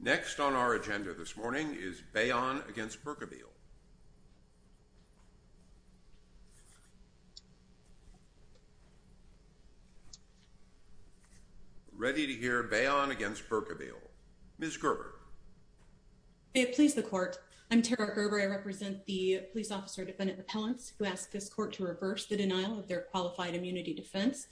Next on our agenda this morning is Bayon v. Berkebile. Ready to hear Bayon v. Berkebile. Ms. Gerber. May it please the Court, I'm Tara Gerber, I represent the Police Officer Defendant Appellants who ask this Court to reverse the denial of their qualified immunity defense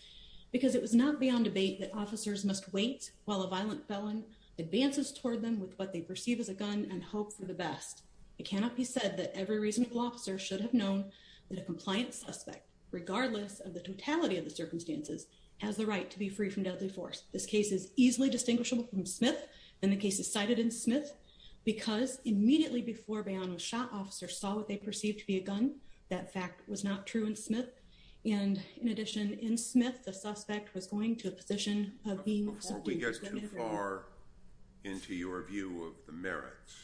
because it was not beyond debate that officers must wait while a violent felon advances toward them with what they perceive as a gun and hope for the best. It cannot be said that every reasonable officer should have known that a compliant suspect, regardless of the totality of the circumstances, has the right to be free from deadly force. This case is easily distinguishable from Smith and the case is cited in Smith because immediately before Bayon was shot, officers saw what they perceived to be a gun. That fact was not true in Smith. And, in addition, in Smith, the suspect was going to a position of being subdued. Before we get too far into your view of the merits,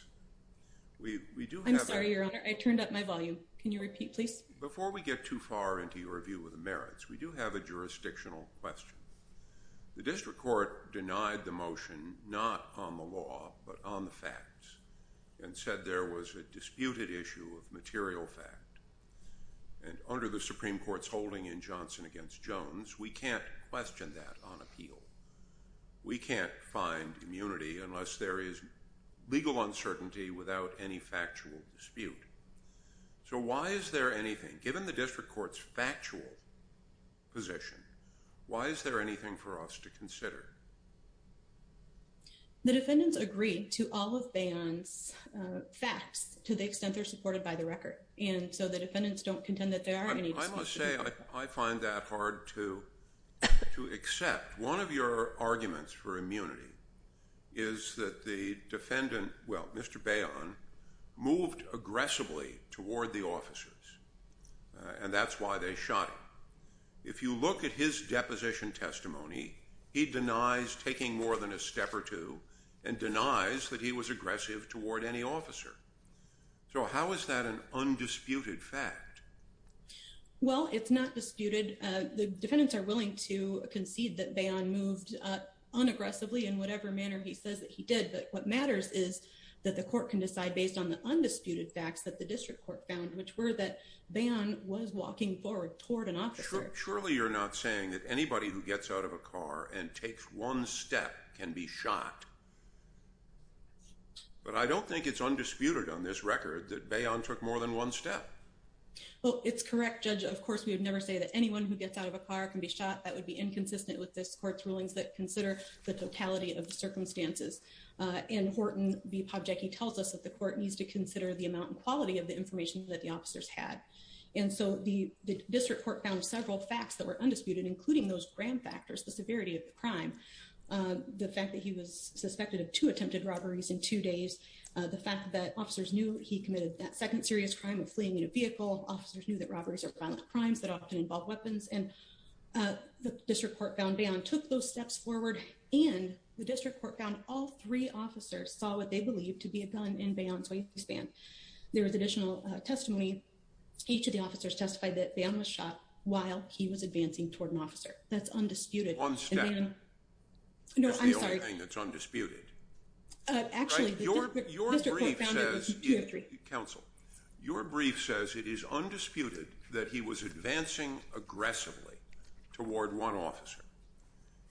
we do have a... I'm sorry, Your Honor, I turned up my volume. Can you repeat, please? Before we get too far into your view of the merits, we do have a jurisdictional question. The District Court denied the motion, not on the law, but on the facts and said there was a disputed issue of material fact. And under the Supreme Court's holding in Johnson against Jones, we can't question that on appeal. We can't find immunity unless there is legal uncertainty without any factual dispute. So why is there anything, given the District Court's factual position, why is there anything for us to consider? The defendants agreed to all of Bayon's facts to the extent they're supported by the record. And so the defendants don't contend that there are any disputes. I must say, I find that hard to accept. One of your arguments for immunity is that the defendant, well, Mr. Bayon, moved aggressively toward the officers, and that's why they shot him. If you look at his deposition testimony, he denies taking more than a step or two and denies that he was aggressive toward any officer. So how is that an undisputed fact? Well, it's not disputed. The defendants are willing to concede that Bayon moved unaggressively in whatever manner he says that he did. But what matters is that the court can decide based on the undisputed facts that the District Court found, which were that Bayon was walking forward toward an officer. Surely you're not saying that anybody who gets out of a car and takes one step can be shot. But I don't think it's undisputed on this record that Bayon took more than one step. Well, it's correct, Judge. Of course, we would never say that anyone who gets out of a car can be shot. That would be inconsistent with this court's rulings that consider the totality of the circumstances. In Horton v. Pobjecki tells us that the court needs to consider the amount and quality of the information that the officers had. And so the District Court found several facts that were undisputed, including those grand factors, the severity of the crime. The fact that he was suspected of two attempted robberies in two days. The fact that officers knew he committed that second serious crime of fleeing in a vehicle. Officers knew that robberies are violent crimes that often involve weapons. And the District Court found Bayon took those steps forward and the District Court found all three officers saw what they believed to be a gun in Bayon's waistband. There was additional testimony. Each of the officers testified that Bayon was shot while he was advancing toward an officer. That's undisputed. That's the only thing that's undisputed. Your brief says it is undisputed that he was advancing aggressively toward one officer.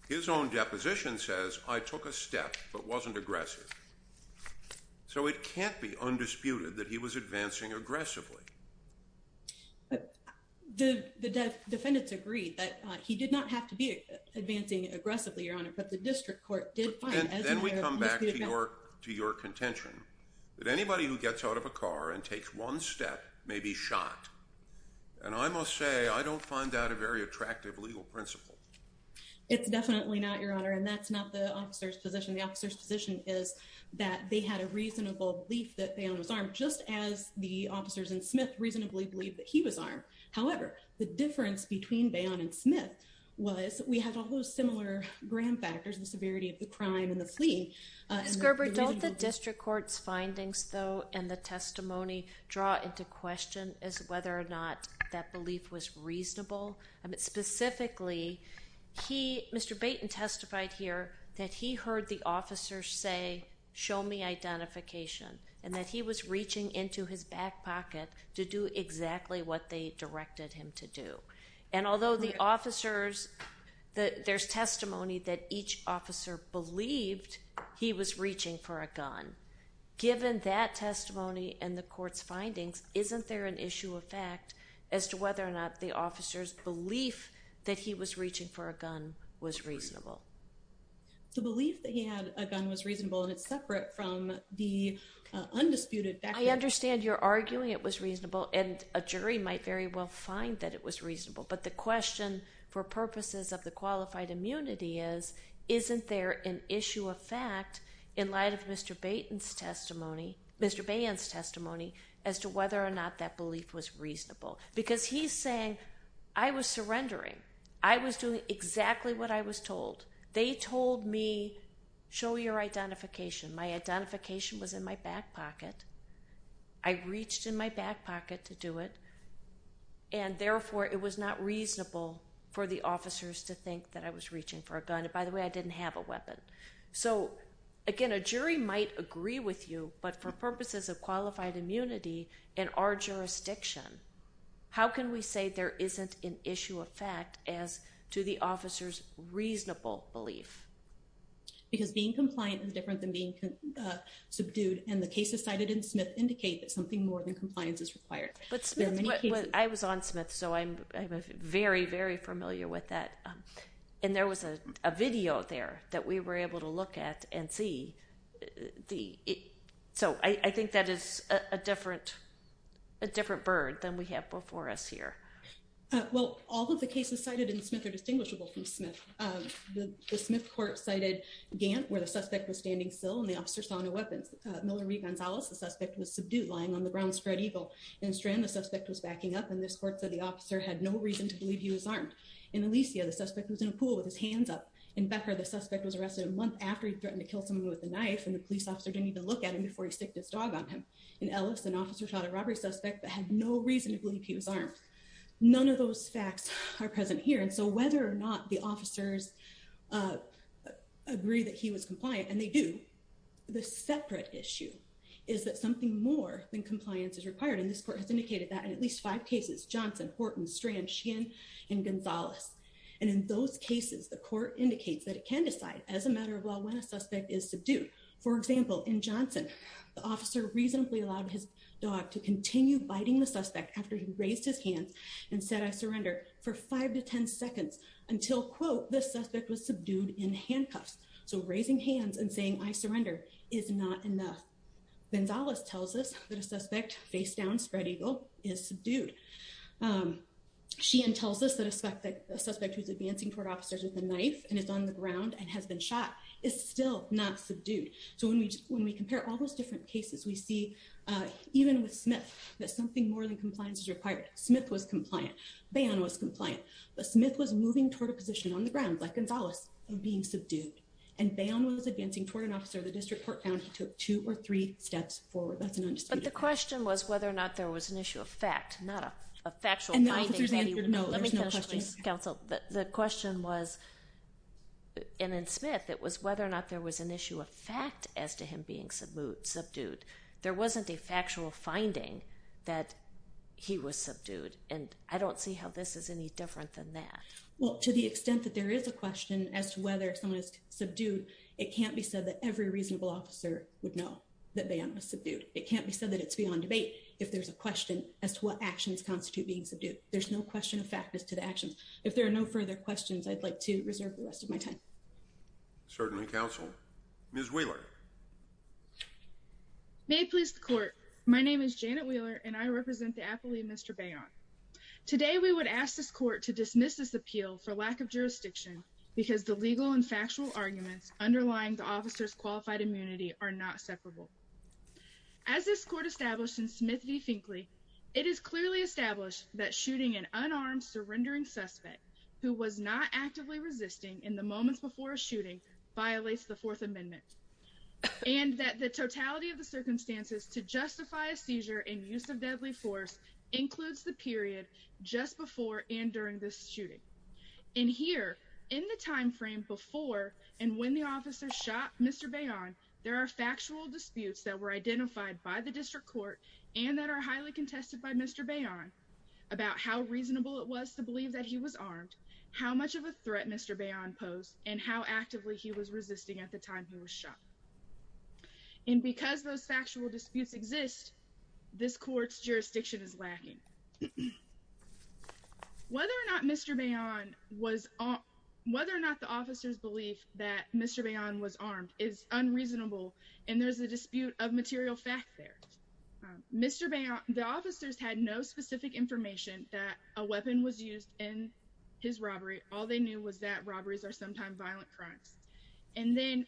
His own deposition says I took a step but wasn't aggressive. So it can't be undisputed that he was advancing aggressively. The defendants agreed that he did not have to be advancing aggressively, Your Honor, but the District Court did find... And then we come back to your contention that anybody who gets out of a car and takes one step may be shot. And I must say, I don't find that a very attractive legal principle. It's definitely not, Your Honor. And that's not the officer's position. The officer's position is that they had a reasonable belief that Bayon was armed just as the officers in Smith reasonably believed that he was armed. However, the difference between Bayon and Smith was that we had all those similar grand factors, the severity of the crime and the fleeing. Ms. Gerber, don't the District Court's findings, though, and the testimony draw into question as to whether or not that belief was reasonable? Specifically, Mr. Baten testified here that he heard the officers say, Show me identification. And that he was reaching into his back pocket to do exactly what they directed him to do. And although the officers... There's testimony that each officer believed he was reaching for a gun. Given that testimony and the court's findings, isn't there an issue of fact as to whether or not the officer's belief that he was reaching for a gun was reasonable? The belief that he had a gun was reasonable and it's separate from the undisputed... I understand you're arguing it was reasonable and a jury might very well find that it was reasonable. But the question for purposes of the qualified immunity is, isn't there an issue of fact in light of Mr. Baten's testimony, Mr. Bayon's testimony, as to whether or not that belief was reasonable? Because he's saying, I was surrendering. I was doing exactly what I was told. They told me, show your identification. My identification was in my back pocket. I reached in my back pocket to do it. And therefore, it was not reasonable for the officers to think that I was reaching for a gun. And by the way, I didn't have a weapon. So again, a jury might agree with you, but for purposes of qualified immunity in our as to the officer's reasonable belief. Because being compliant is different than being subdued. And the cases cited in Smith indicate that something more than compliance is required. I was on Smith, so I'm very, very familiar with that. And there was a video there that we were able to look at and see. So I think that is a different bird than we have before us here. Well, all of the cases cited in Smith are distinguishable from Smith. The Smith court cited Gant, where the suspect was standing still and the officer saw no weapons. Miller v. Gonzalez, the suspect was subdued, lying on the ground, spread eagle. In Strand, the suspect was backing up. And this court said the officer had no reason to believe he was armed. In Alicia, the suspect was in a pool with his hands up. In Becker, the suspect was arrested a month after he threatened to kill someone with a knife. And the police officer didn't even look at him before he sticked his dog on him. In Ellis, an officer shot a robbery suspect that had no reason to believe he was armed. None of those facts are present here. And so whether or not the officers agree that he was compliant, and they do, the separate issue is that something more than compliance is required. And this court has indicated that in at least five cases. Johnson, Horton, Strand, Sheehan, and Gonzalez. And in those cases, the court indicates that it can decide as a matter of law when a suspect is subdued. For example, in Johnson, the officer reasonably allowed his dog to continue biting the suspect after he raised his hands and said, I surrender, for five to ten seconds until, quote, the suspect was subdued in handcuffs. So raising hands and saying, I surrender, is not enough. Gonzalez tells us that a suspect face down, spread eagle, is subdued. Sheehan tells us that a suspect who's advancing toward officers with a knife and is on the ground and has been shot is still not subdued. So when we compare all those different cases, we see, even with Smith, that something more than compliance is required. Smith was compliant. Bayon was compliant. But Smith was moving toward a position on the ground, like Gonzalez, of being subdued. And Bayon was advancing toward an officer. The district court found he took two or three steps forward. That's an undisputed fact. But the question was whether or not there was an issue of fact, not a factual finding. And the officers answered, no, there's no question. The question was, and in Smith, it was whether or not there was an issue of fact as to him being subdued. There wasn't a factual finding that he was subdued. And I don't see how this is any different than that. Well, to the extent that there is a question as to whether someone is subdued, it can't be said that every reasonable officer would know that Bayon was subdued. It can't be said that it's beyond debate if there's a question as to what actions constitute being subdued. There's no question of fact as to the actions. If there are no further questions, I'd like to reserve the rest of my time. Certainly, counsel. Ms. Wheeler. May it please the court, my name is Janet Wheeler, and I represent the affiliate Mr. Bayon. Today, we would ask this court to dismiss this appeal for lack of jurisdiction because the legal and factual arguments underlying the officer's qualified immunity are not separable. As this court established in Smith v. Finkley, it is clearly established that shooting an unarmed surrendering suspect who was not actively resisting in the moments before a shooting violates the Fourth Amendment, and that the totality of the circumstances to justify a seizure and use of deadly force includes the period just before and during this shooting. And here, in the time frame before and when the officer shot Mr. Bayon, there are factual disputes that were identified by the district court and that are highly contested by Mr. Bayon about how reasonable it was to believe that he was armed, how much of a threat Mr. Bayon posed, and how actively he was resisting at the time he was shot. And because those factual disputes exist, this court's jurisdiction is lacking. Whether or not the officer's belief that Mr. Bayon was armed is unreasonable, and there's a dispute of material fact there. The officers had no specific information that a weapon was used in his robbery. All they knew was that robberies are sometimes violent crimes. And then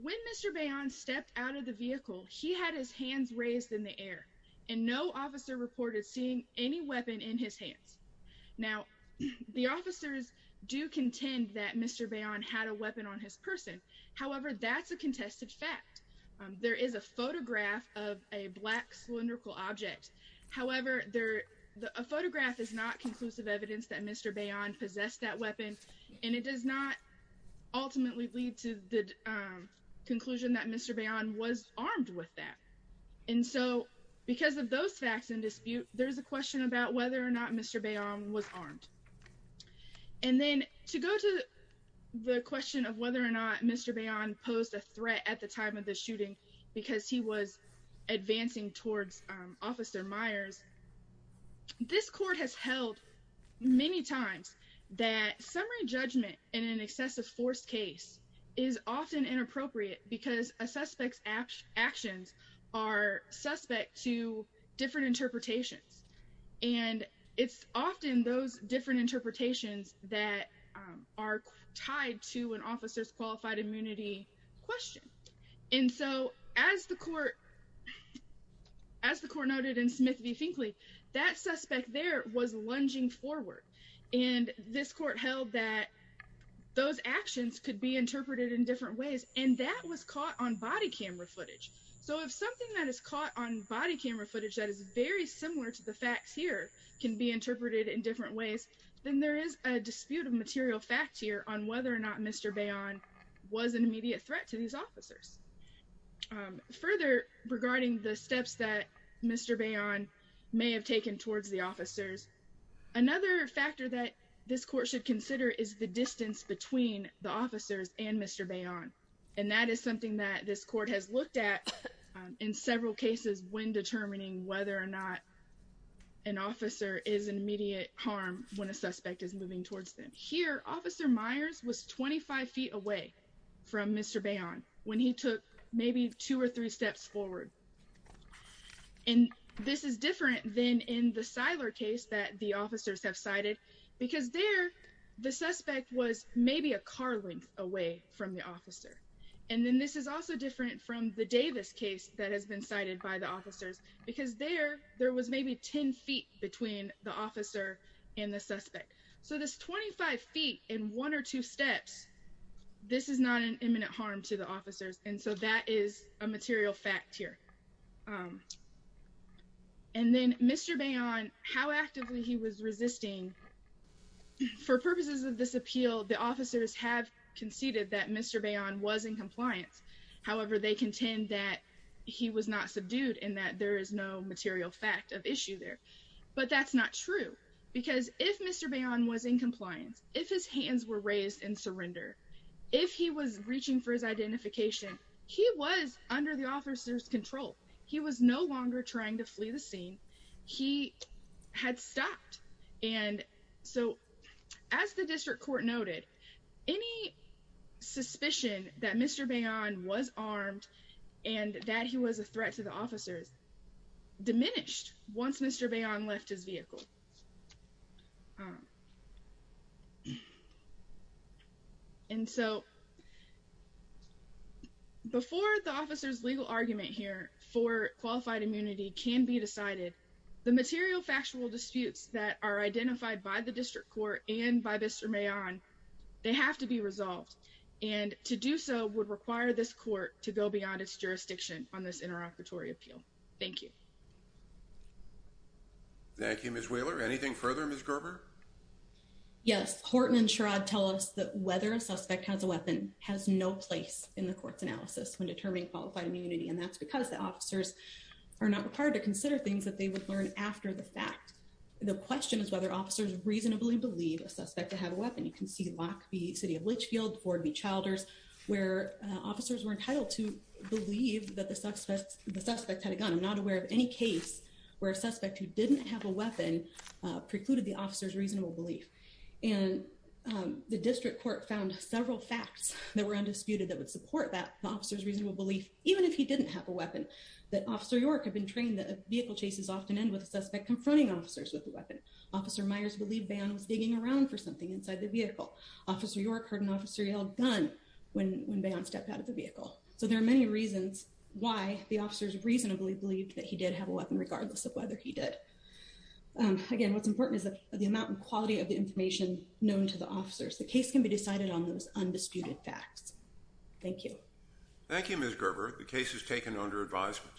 when Mr. Bayon stepped out of the vehicle, he had his hands raised in the air, and no officer reported seeing any weapon in his hands. Now, the officers do contend that Mr. Bayon had a weapon on his person. However, that's a contested fact. There is a photograph of a black cylindrical object. However, a photograph is not conclusive evidence that Mr. Bayon possessed that weapon, and it does not ultimately lead to the conclusion that Mr. Bayon was armed with that. And so because of those facts in dispute, there's a question about whether or not Mr. Bayon was armed. And then to go to the question of whether or not Mr. Bayon posed a threat at the time of the shooting because he was advancing towards Officer Myers, this court has held many times that summary judgment in an excessive force case is often inappropriate because a suspect's actions are suspect to different interpretations. And it's often those different interpretations that are tied to an officer's qualified immunity question. And so as the court noted in Smith v. Finkley, that suspect there was lunging forward, and this court held that those actions could be interpreted in different ways, and that was caught on body camera footage. So if something that is caught on body camera footage that is very similar to the facts here can be interpreted in different ways, then there is a dispute of material facts here on whether or not Mr. Bayon was an immediate threat to these officers. Further, regarding the steps that Mr. Bayon may have taken towards the officers, another factor that this court should consider is the distance between the officers and Mr. Bayon, and that is something that this court has looked at in several cases when determining whether or not an officer is an immediate harm when a suspect is moving towards them. Here, Officer Myers was 25 feet away from Mr. Bayon when he took maybe two or three steps forward, and this is different than in the Seiler case that the officers have cited because there the suspect was maybe a car length away from the officer, and then this is also different from the Davis case that has been cited by the officers because there was maybe 10 feet between the officer and the suspect. So this 25 feet in one or two steps, this is not an imminent harm to the officers, and so that is a material fact here. And then Mr. Bayon, how actively he was resisting. For purposes of this appeal, the officers have conceded that Mr. Bayon was in compliance. However, they contend that he was not subdued and that there is no material fact of issue there, but that's not true because if Mr. Bayon was in compliance, if his hands were raised in surrender, if he was reaching for his identification, he was under the officer's control. He was no longer trying to flee the scene. He had stopped, and so as the district court noted, any suspicion that Mr. Bayon was armed and that he was a threat to the officers diminished once Mr. Bayon left his vehicle. And so before the officer's legal argument here for qualified immunity can be decided, the material factual disputes that are identified by the district court and by Mr. Bayon, they have to be resolved, and to do so would require this court to go beyond its jurisdiction on this interoperatory appeal. Thank you. Thank you, Ms. Wheeler. Anything further, Ms. Gerber? Yes. Horton and Sherrod tell us that whether a suspect has a weapon has no place in the court's analysis when determining qualified immunity, and that's because the officers are not required to consider things that they would learn after the fact. The question is whether officers reasonably believe a suspect to have a weapon. You can see Lockby City of Litchfield, Ford v. Childers, where officers were entitled to believe that the suspect had a gun. I'm not aware of any case where a suspect who didn't have a weapon precluded the officer's reasonable belief. And the district court found several facts that were undisputed that would support that, the officer's reasonable belief, even if he didn't have a weapon, that Officer York had been trained that vehicle chases often end with a suspect confronting officers with a weapon. Officer Myers believed Bayon was digging around for something inside the vehicle. Officer York heard an officer yell, gun, when Bayon stepped out of the vehicle. So there are many reasons why the officers reasonably believed that he did have a weapon, regardless of whether he did. Again, what's important is the amount and quality of the information known to the officers. The case can be decided on those undisputed facts. Thank you. Thank you, Ms. Gerber. The case is taken under advisement.